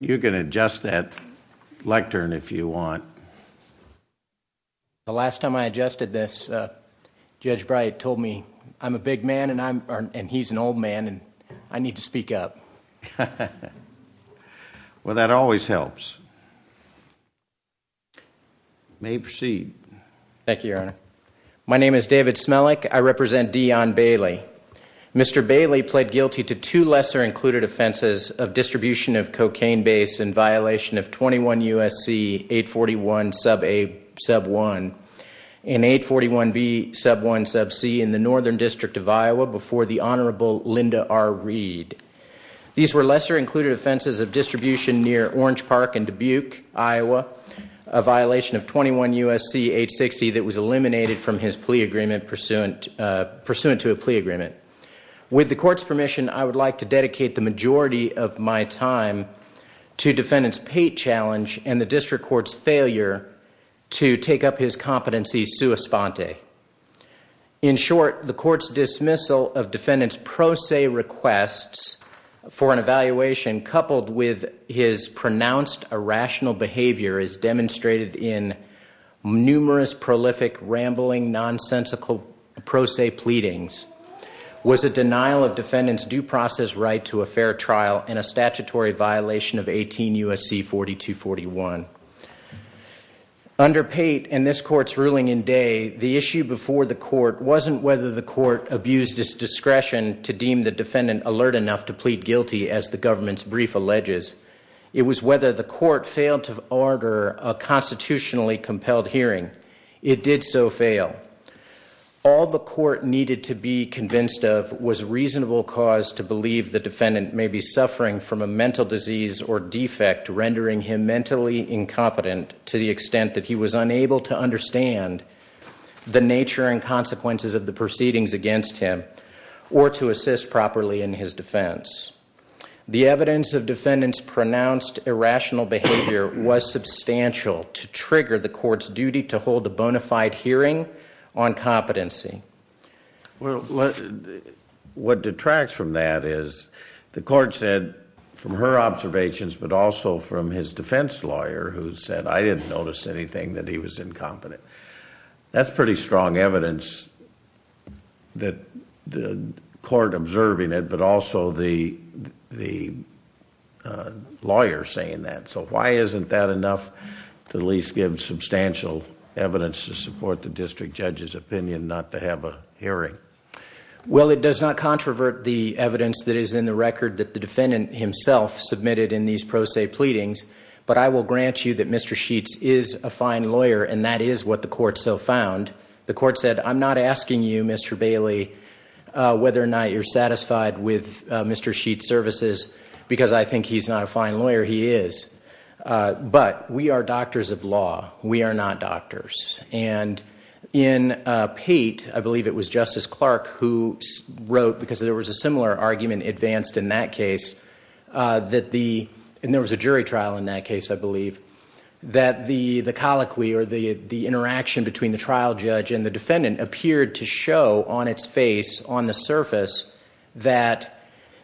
You can adjust that lectern if you want. The last time I adjusted this, Judge Bright told me I'm a big man and he's an old man and I need to speak up. Well, that always helps. May he proceed. Thank you, Your Honor. My name is David Smellick. I represent Deon Bailey. Mr. Bailey pled guilty to two lesser-included offenses of distribution of cocaine base in violation of 21 U.S.C. 841 Sub A Sub 1 and 841 B Sub 1 Sub C in the Northern District of Iowa before the Honorable Linda R. Reed. These were lesser-included offenses of distribution near Orange Park in Dubuque, Iowa, a violation of 21 U.S.C. 860 that was eliminated from his plea agreement pursuant to a plea agreement. With the court's permission, I would like to dedicate the majority of my time to defendant's pate challenge and the district court's failure to take up his competency sua sponte. In short, the court's dismissal of defendant's pro se requests for an evaluation coupled with his pronounced irrational behavior as demonstrated in numerous prolific rambling nonsensical pro se pleadings was a denial of defendant's due process right to a fair trial and a statutory violation of 18 U.S.C. 4241. Under pate and this court's ruling in day, the issue before the court wasn't whether the court abused its discretion to deem the defendant alert enough to plead guilty as the government's brief alleges. It was whether the court failed to order a constitutionally compelled hearing. It did so fail. All the court needed to be convinced of was reasonable cause to believe the defendant may be suffering from a mental disease or defect rendering him mentally incompetent to the extent that he was unable to understand the nature and consequences of the proceedings against him or to assist properly in his defense. The evidence of defendant's pronounced irrational behavior was substantial to trigger the court's duty to hold a bona fide hearing on competency. What detracts from that is the court said from her observations but also from his defense lawyer who said I didn't notice anything that he was incompetent. That's pretty strong evidence that the court observing it but also the lawyer saying that. Why isn't that enough to at least give substantial evidence to support the district judge's opinion not to have a hearing? Well, it does not controvert the evidence that is in the record that the defendant himself submitted in these pro se pleadings, but I will grant you that Mr. Sheets is a fine lawyer and that is what the court so found. The court said I'm not asking you, Mr. Bailey, whether or not you're satisfied with Mr. Sheets' services because I think he's not a fine lawyer. He is. But we are doctors of law. We are not doctors. In Pate, I believe it was Justice Clark who wrote because there was a similar argument advanced in that case. There was a jury trial in that case, I believe, that the colloquy or the interaction between the trial judge and the defendant appeared to show on its face on the surface that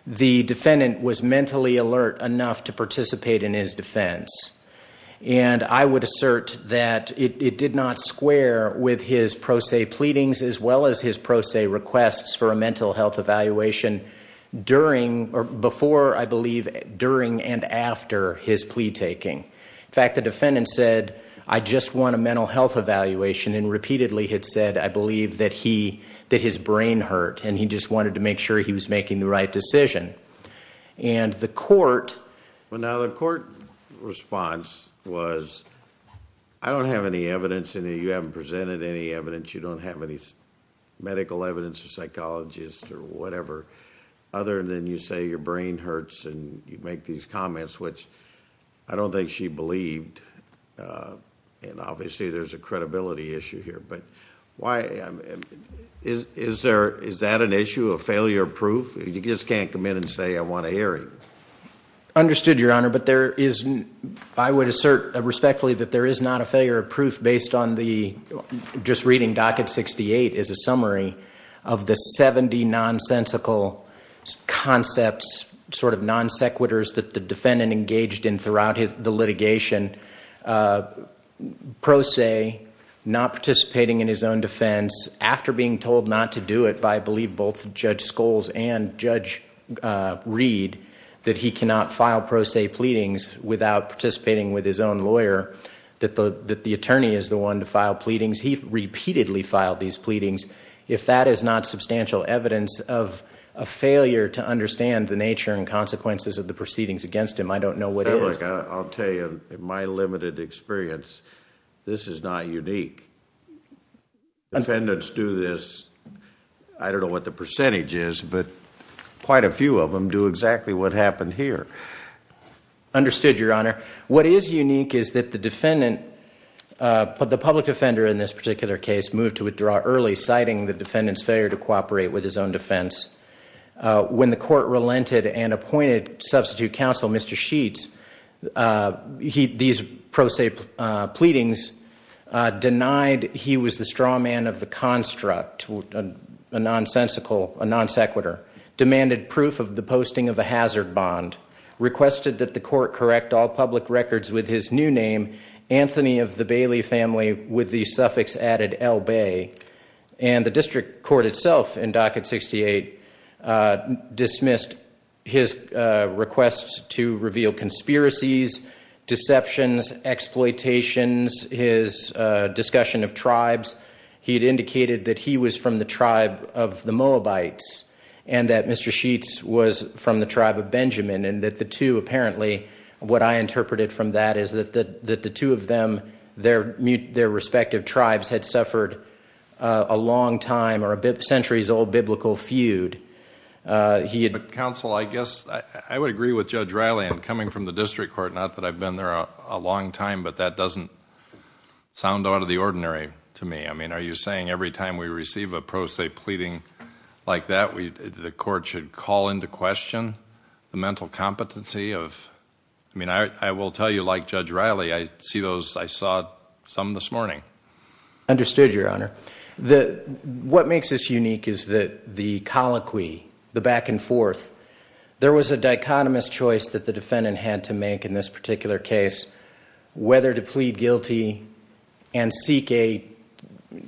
the defendant was mentally alert enough to participate in his defense. And I would assert that it did not square with his pro se pleadings as well as his pro se requests for a mental health evaluation before, I believe, during and after his plea taking. In fact, the defendant said, I just want a mental health evaluation and repeatedly had said, I believe, that his brain hurt and he just wanted to make sure he was making the right decision. And the court... Well, now, the court response was I don't have any evidence and you haven't presented any evidence. You don't have any medical evidence or psychologist or whatever other than you say your brain hurts and you make these comments, which I don't think she believed. And obviously, there's a credibility issue here. Is that an issue of failure of proof? You just can't come in and say, I want to hear it. Understood, Your Honor, but there is... I would assert respectfully that there is not a failure of proof based on the... after being told not to do it by, I believe, both Judge Scholes and Judge Reed, that he cannot file pro se pleadings without participating with his own lawyer, that the attorney is the one to file pleadings. He repeatedly filed these pleadings. If that is not substantial evidence of a failure to understand the nature and consequences of the proceedings against him, I don't know what is. I'll tell you, in my limited experience, this is not unique. Defendants do this... I don't know what the percentage is, but quite a few of them do exactly what happened here. Understood, Your Honor. What is unique is that the defendant... the public defender in this particular case moved to withdraw early, citing the defendant's failure to cooperate with his own defense. When the court relented and appointed substitute counsel, Mr. Sheets, these pro se pleadings denied he was the straw man of the construct, a nonsensical... a non sequitur. Demanded proof of the posting of a hazard bond. Requested that the court correct all public records with his new name, Anthony of the Bailey family, with the suffix added L. Bay. The district court itself in Docket 68 dismissed his requests to reveal conspiracies, deceptions, exploitations, his discussion of tribes. He had indicated that he was from the tribe of the Moabites and that Mr. Sheets was from the tribe of Benjamin. And that the two apparently... what I interpreted from that is that the two of them... their respective tribes had suffered a long time or a centuries old biblical feud. Counsel, I guess... I would agree with Judge Riley in coming from the district court, not that I've been there a long time, but that doesn't sound out of the ordinary to me. I mean, are you saying every time we receive a pro se pleading like that, the court should call into question the mental competency of... I mean, I will tell you like Judge Riley, I see those... I saw some this morning. Understood, Your Honor. What makes this unique is that the colloquy, the back and forth, there was a dichotomous choice that the defendant had to make in this particular case, whether to plead guilty and seek a... I believe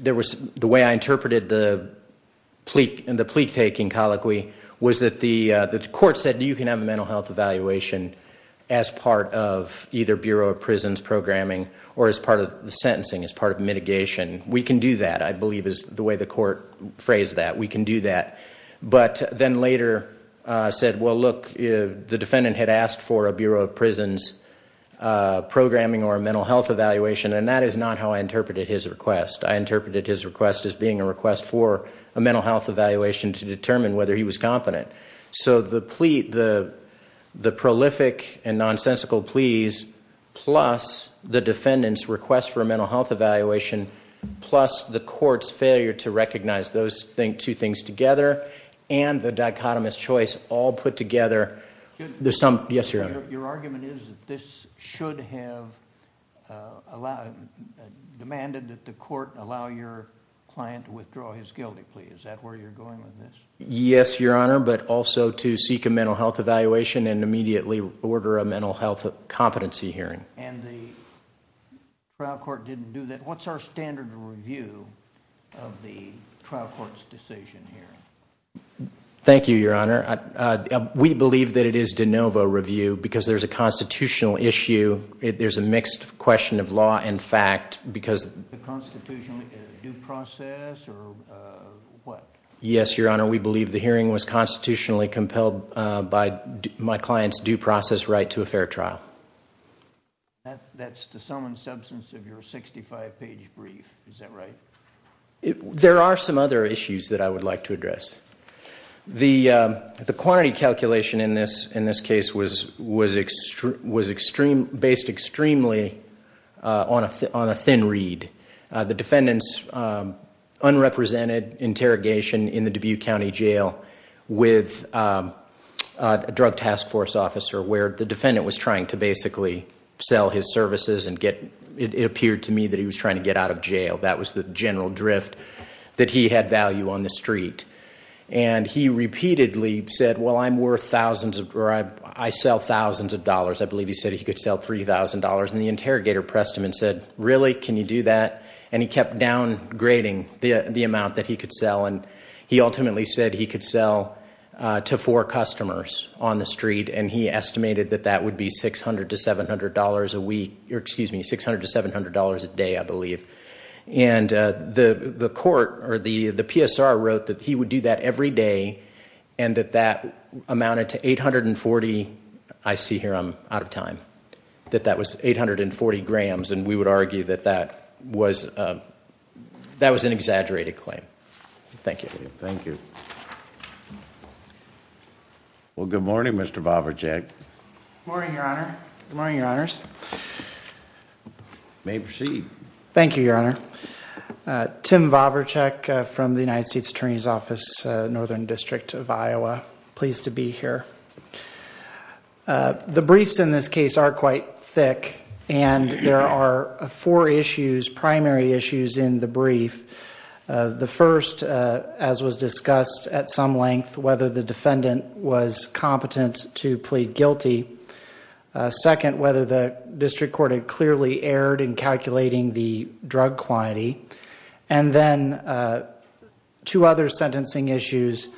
is the way the court phrased that. We can do that. But then later said, well, look, the defendant had asked for a Bureau of Prisons programming or a mental health evaluation and that is not how I interpreted his request. I interpreted his request as being a request for a mental health evaluation to determine whether he was competent. So the plea, the prolific and nonsensical pleas plus the defendant's request for a mental health evaluation plus the court's failure to recognize those two things together and the dichotomous choice all put together... Your argument is that this should have demanded that the court allow your client to withdraw his guilty plea. Is that where you're going with this? Yes, Your Honor, but also to seek a mental health evaluation and immediately order a mental health competency hearing. And the trial court didn't do that. What's our standard review of the trial court's decision here? Thank you, Your Honor. We believe that it is de novo review because there's a constitutional issue. There's a mixed question of law and fact because... The constitutional due process or what? Yes, Your Honor, we believe the hearing was constitutionally compelled by my client's due process right to a fair trial. That's the sum and substance of your 65-page brief. Is that right? There are some other issues that I would like to address. The quantity calculation in this case was based extremely on a thin read. The defendant's unrepresented interrogation in the Dubuque County Jail with a drug task force officer where the defendant was trying to basically sell his services and get... And he repeatedly said, well, I'm worth thousands or I sell thousands of dollars. I believe he said he could sell $3,000. And the interrogator pressed him and said, really? Can you do that? And he kept downgrading the amount that he could sell. And he ultimately said he could sell to four customers on the street and he estimated that that would be $600 to $700 a week. And the court or the PSR wrote that he would do that every day and that that amounted to 840... I see here I'm out of time... That that was 840 grams and we would argue that that was an exaggerated claim. Thank you. Thank you. Well, good morning, Mr. Boverjack. Good morning, Your Honor. Good morning, Your Honors. You may proceed. Thank you, Your Honor. Tim Boverjack from the United States Attorney's Office, Northern District of Iowa. Pleased to be here. The briefs in this case are quite thick and there are four issues, primary issues in the brief. The first, as was discussed at some length, whether the defendant was competent to plead guilty. Second, whether the district court had clearly erred in calculating the drug quantity. And then, two other sentencing issues,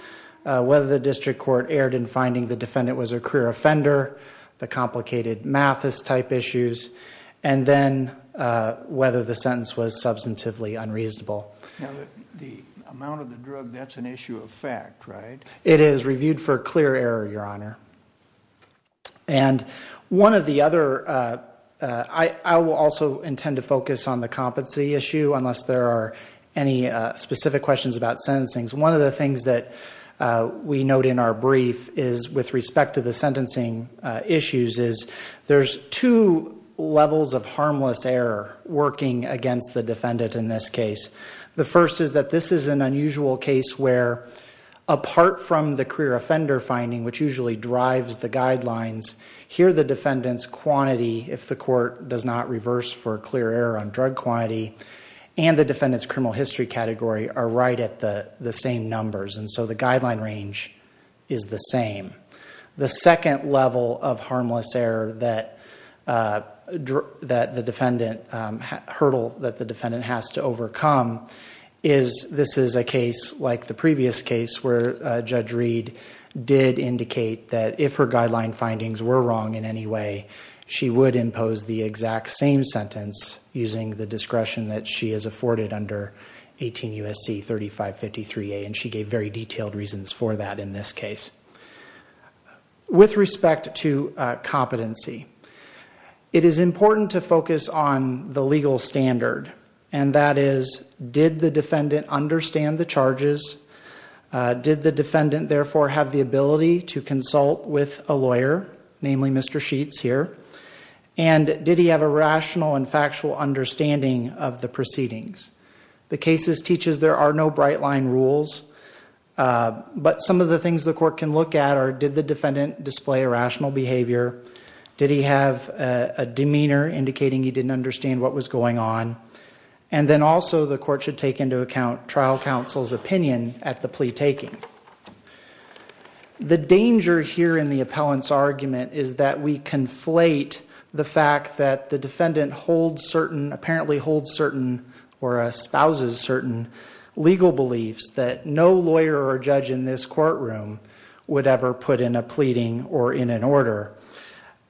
whether the district court erred in finding the defendant was a career offender, the complicated Mathis type issues. And then, whether the sentence was substantively unreasonable. The amount of the drug, that's an issue of fact, right? It is reviewed for clear error, Your Honor. And one of the other, I will also intend to focus on the competency issue unless there are any specific questions about sentencing. One of the things that we note in our brief is with respect to the sentencing issues is there's two levels of harmless error working against the defendant in this case. The first is that this is an unusual case where apart from the career offender finding, which usually drives the guidelines, here the defendant's quantity, if the court does not reverse for clear error on drug quantity, and the defendant's criminal history category are right at the same numbers. And so, the guideline range is the same. The second level of harmless error that the defendant, hurdle that the defendant has to overcome is, this is a case like the previous case where Judge Reed did indicate that if her guideline findings were wrong in any way, she would impose the exact same sentence using the discretion that she has afforded under 18 U.S.C. 3553A. And she gave very detailed reasons for that in this case. With respect to competency, it is important to focus on the legal standard. And that is, did the defendant understand the charges? Did the defendant therefore have the ability to consult with a lawyer, namely Mr. Sheets here? And did he have a rational and factual understanding of the proceedings? The cases teaches there are no bright line rules. But some of the things the court can look at are, did the defendant display a rational behavior? Did he have a demeanor indicating he didn't understand what was going on? And then also the court should take into account trial counsel's opinion at the plea taking. The danger here in the appellant's argument is that we conflate the fact that the defendant holds certain, apparently holds certain or espouses certain legal beliefs that no lawyer or judge in this courtroom would ever put in a pleading or in an order.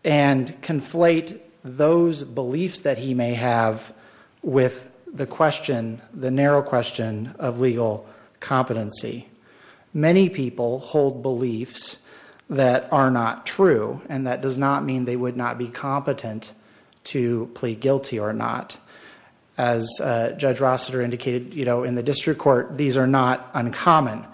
And conflate those beliefs that he may have with the question, the narrow question of legal competency. Many people hold beliefs that are not true. And that does not mean they would not be competent to plead guilty or not. As Judge Rossiter indicated, you know, in the district court, these are not uncommon.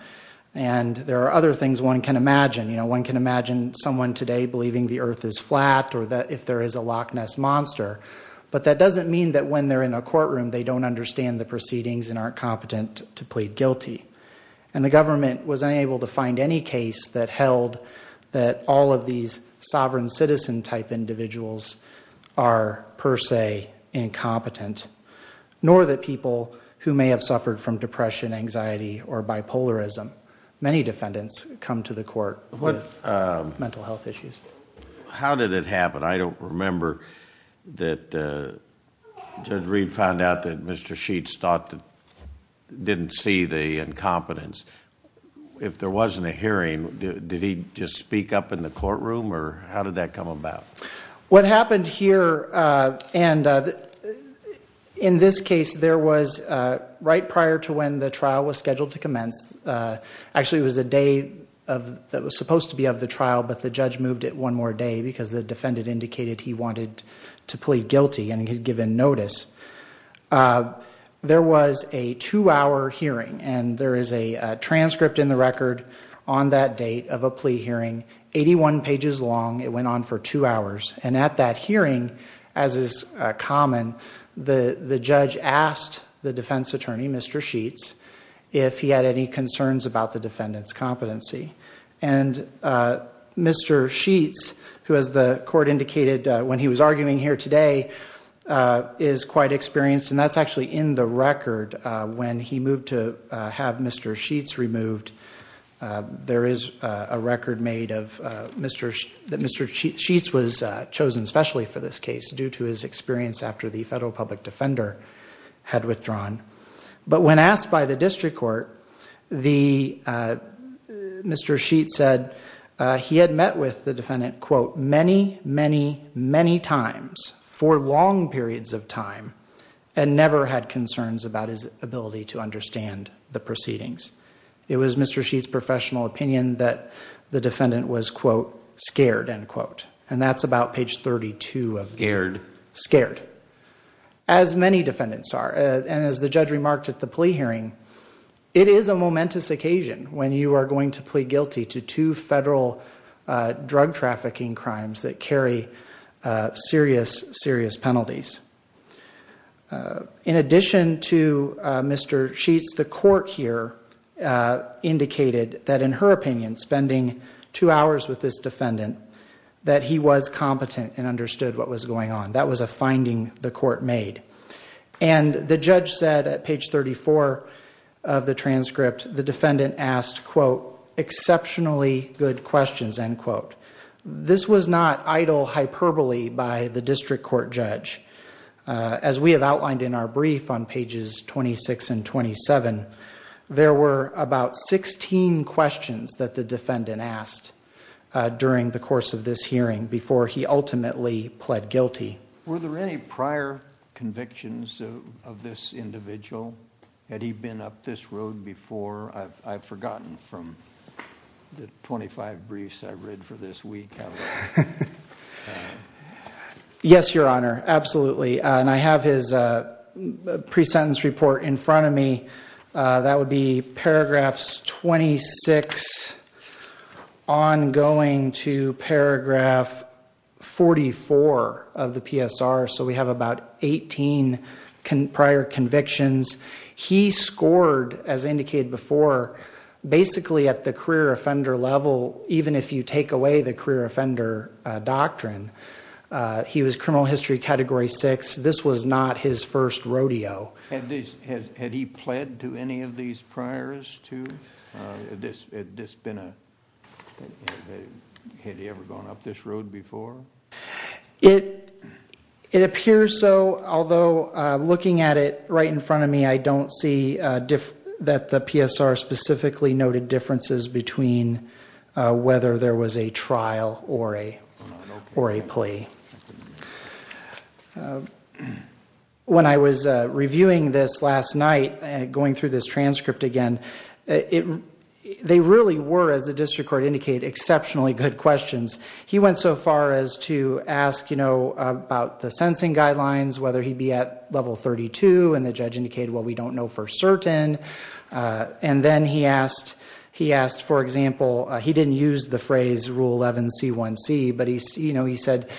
And there are other things one can imagine. You know, one can imagine someone today believing the earth is flat or that if there is a Loch Ness monster. But that doesn't mean that when they're in a courtroom, they don't understand the proceedings and aren't competent to plead guilty. And the government was unable to find any case that held that all of these sovereign citizen type individuals are per se incompetent. Nor that people who may have suffered from depression, anxiety or bipolarism. Many defendants come to the court with mental health issues. How did it happen? I don't remember that Judge Reed found out that Mr. Sheets didn't see the incompetence. If there wasn't a hearing, did he just speak up in the courtroom or how did that come about? What happened here and in this case, there was right prior to when the trial was scheduled to commence. Actually, it was the day that was supposed to be of the trial. But the judge moved it one more day because the defendant indicated he wanted to plead guilty and he had given notice. There was a two-hour hearing and there is a transcript in the record on that date of a plea hearing. Eighty-one pages long. It went on for two hours. And at that hearing, as is common, the judge asked the defense attorney, Mr. Sheets, if he had any concerns about the defendant's competency. And Mr. Sheets, who as the court indicated when he was arguing here today, is quite experienced. And that's actually in the record when he moved to have Mr. Sheets removed. There is a record made that Mr. Sheets was chosen specially for this case due to his experience after the federal public defender had withdrawn. But when asked by the district court, Mr. Sheets said he had met with the defendant, quote, many, many, many times for long periods of time and never had concerns about his ability to understand the proceedings. It was Mr. Sheets' professional opinion that the defendant was, quote, scared, end quote. And that's about page 32 of scared. As many defendants are. And as the judge remarked at the plea hearing, it is a momentous occasion when you are going to plead guilty to two federal drug trafficking crimes that carry serious, serious penalties. In addition to Mr. Sheets, the court here indicated that in her opinion, spending two hours with this defendant, that he was competent and understood what was going on. That was a finding the court made. And the judge said at page 34 of the transcript, the defendant asked, quote, exceptionally good questions, end quote. This was not idle hyperbole by the district court judge. As we have outlined in our brief on pages 26 and 27, there were about 16 questions that the defendant asked during the course of this hearing before he ultimately pled guilty. Were there any prior convictions of this individual? Had he been up this road before? I've forgotten from the 25 briefs I've read for this week. Yes, Your Honor. Absolutely. And I have his pre-sentence report in front of me. That would be paragraphs 26 ongoing to paragraph 44 of the PSR. So we have about 18 prior convictions. He scored, as indicated before, basically at the career offender level, even if you take away the career offender doctrine. He was criminal history category 6. This was not his first rodeo. Had he pled to any of these priors, too? Had this been a... Had he ever gone up this road before? It appears so, although looking at it right in front of me, I don't see that the PSR specifically noted differences between whether there was a trial or a plea. When I was reviewing this last night, going through this transcript again, they really were, as the district court indicated, exceptionally good questions. He went so far as to ask about the sensing guidelines, whether he'd be at level 32. And the judge indicated, well, we don't know for certain. And then he asked, for example, he didn't use the phrase Rule 11C1C, but he said,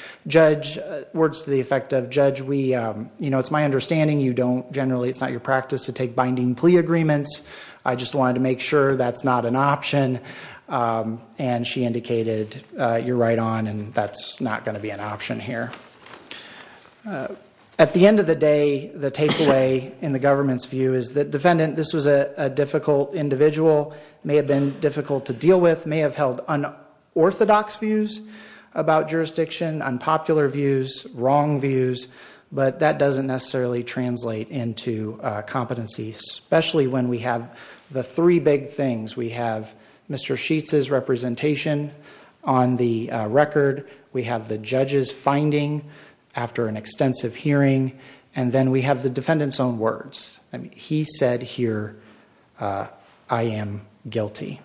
words to the effect of, judge, it's my understanding you don't generally, it's not your practice to take binding plea agreements. I just wanted to make sure that's not an option. And she indicated, you're right on, and that's not going to be an option here. At the end of the day, the takeaway in the government's view is that defendant, this was a difficult individual, may have been difficult to deal with, may have held unorthodox views about jurisdiction, unpopular views, wrong views. But that doesn't necessarily translate into competency, especially when we have the three big things. We have Mr. Sheets's representation on the record. We have the judge's finding after an extensive hearing. And then we have the defendant's own words. He said here, I am guilty.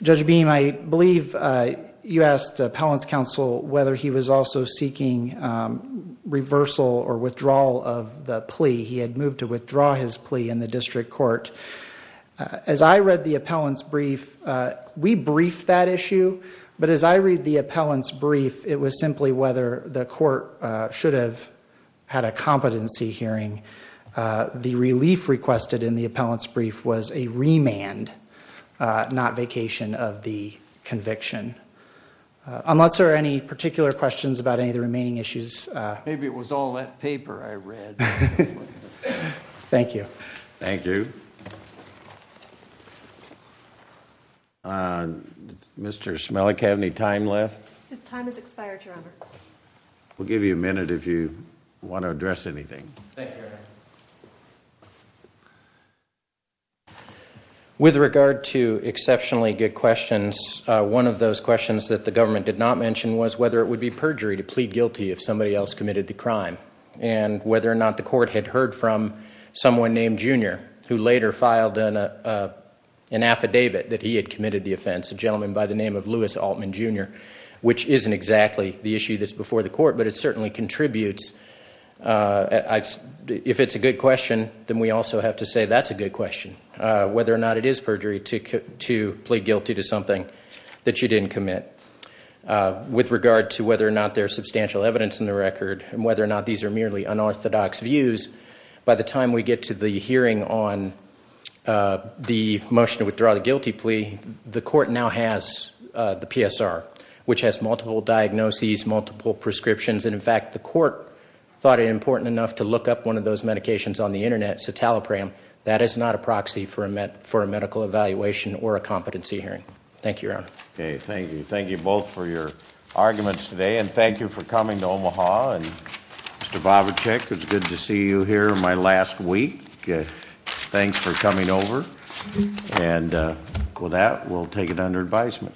Judge Beam, I believe you asked appellant's counsel whether he was also seeking reversal or withdrawal of the plea. He had moved to withdraw his plea in the district court. As I read the appellant's brief, we briefed that issue. But as I read the appellant's brief, it was simply whether the court should have had a competency hearing. The relief requested in the appellant's brief was a remand, not vacation of the conviction. Unless there are any particular questions about any of the remaining issues. Maybe it was all that paper I read. Thank you. Thank you. Mr. Smelik, have any time left? His time has expired, Your Honor. We'll give you a minute if you want to address anything. Thank you, Your Honor. With regard to exceptionally good questions, one of those questions that the government did not mention was whether it would be perjury to plead guilty if somebody else committed the crime. And whether or not the court had heard from someone named Junior, who later filed an affidavit that he had committed the offense, a gentleman by the name of Louis Altman Junior, which isn't exactly the issue that's before the court, but it certainly contributes. If it's a good question, then we also have to say that's a good question, whether or not it is perjury to plead guilty to something that you didn't commit. With regard to whether or not there's substantial evidence in the record and whether or not these are merely unorthodox views, by the time we get to the hearing on the motion to withdraw the guilty plea, the court now has the PSR, which has multiple diagnoses, multiple prescriptions. And in fact, the court thought it important enough to look up one of those medications on the Internet, citalopram, that is not a proxy for a medical evaluation or a competency hearing. Thank you, Your Honor. Okay, thank you. Thank you both for your arguments today. And thank you for coming to Omaha. And Mr. Bobachek, it's good to see you here in my last week. Thanks for coming over. And with that, we'll take it under advisement.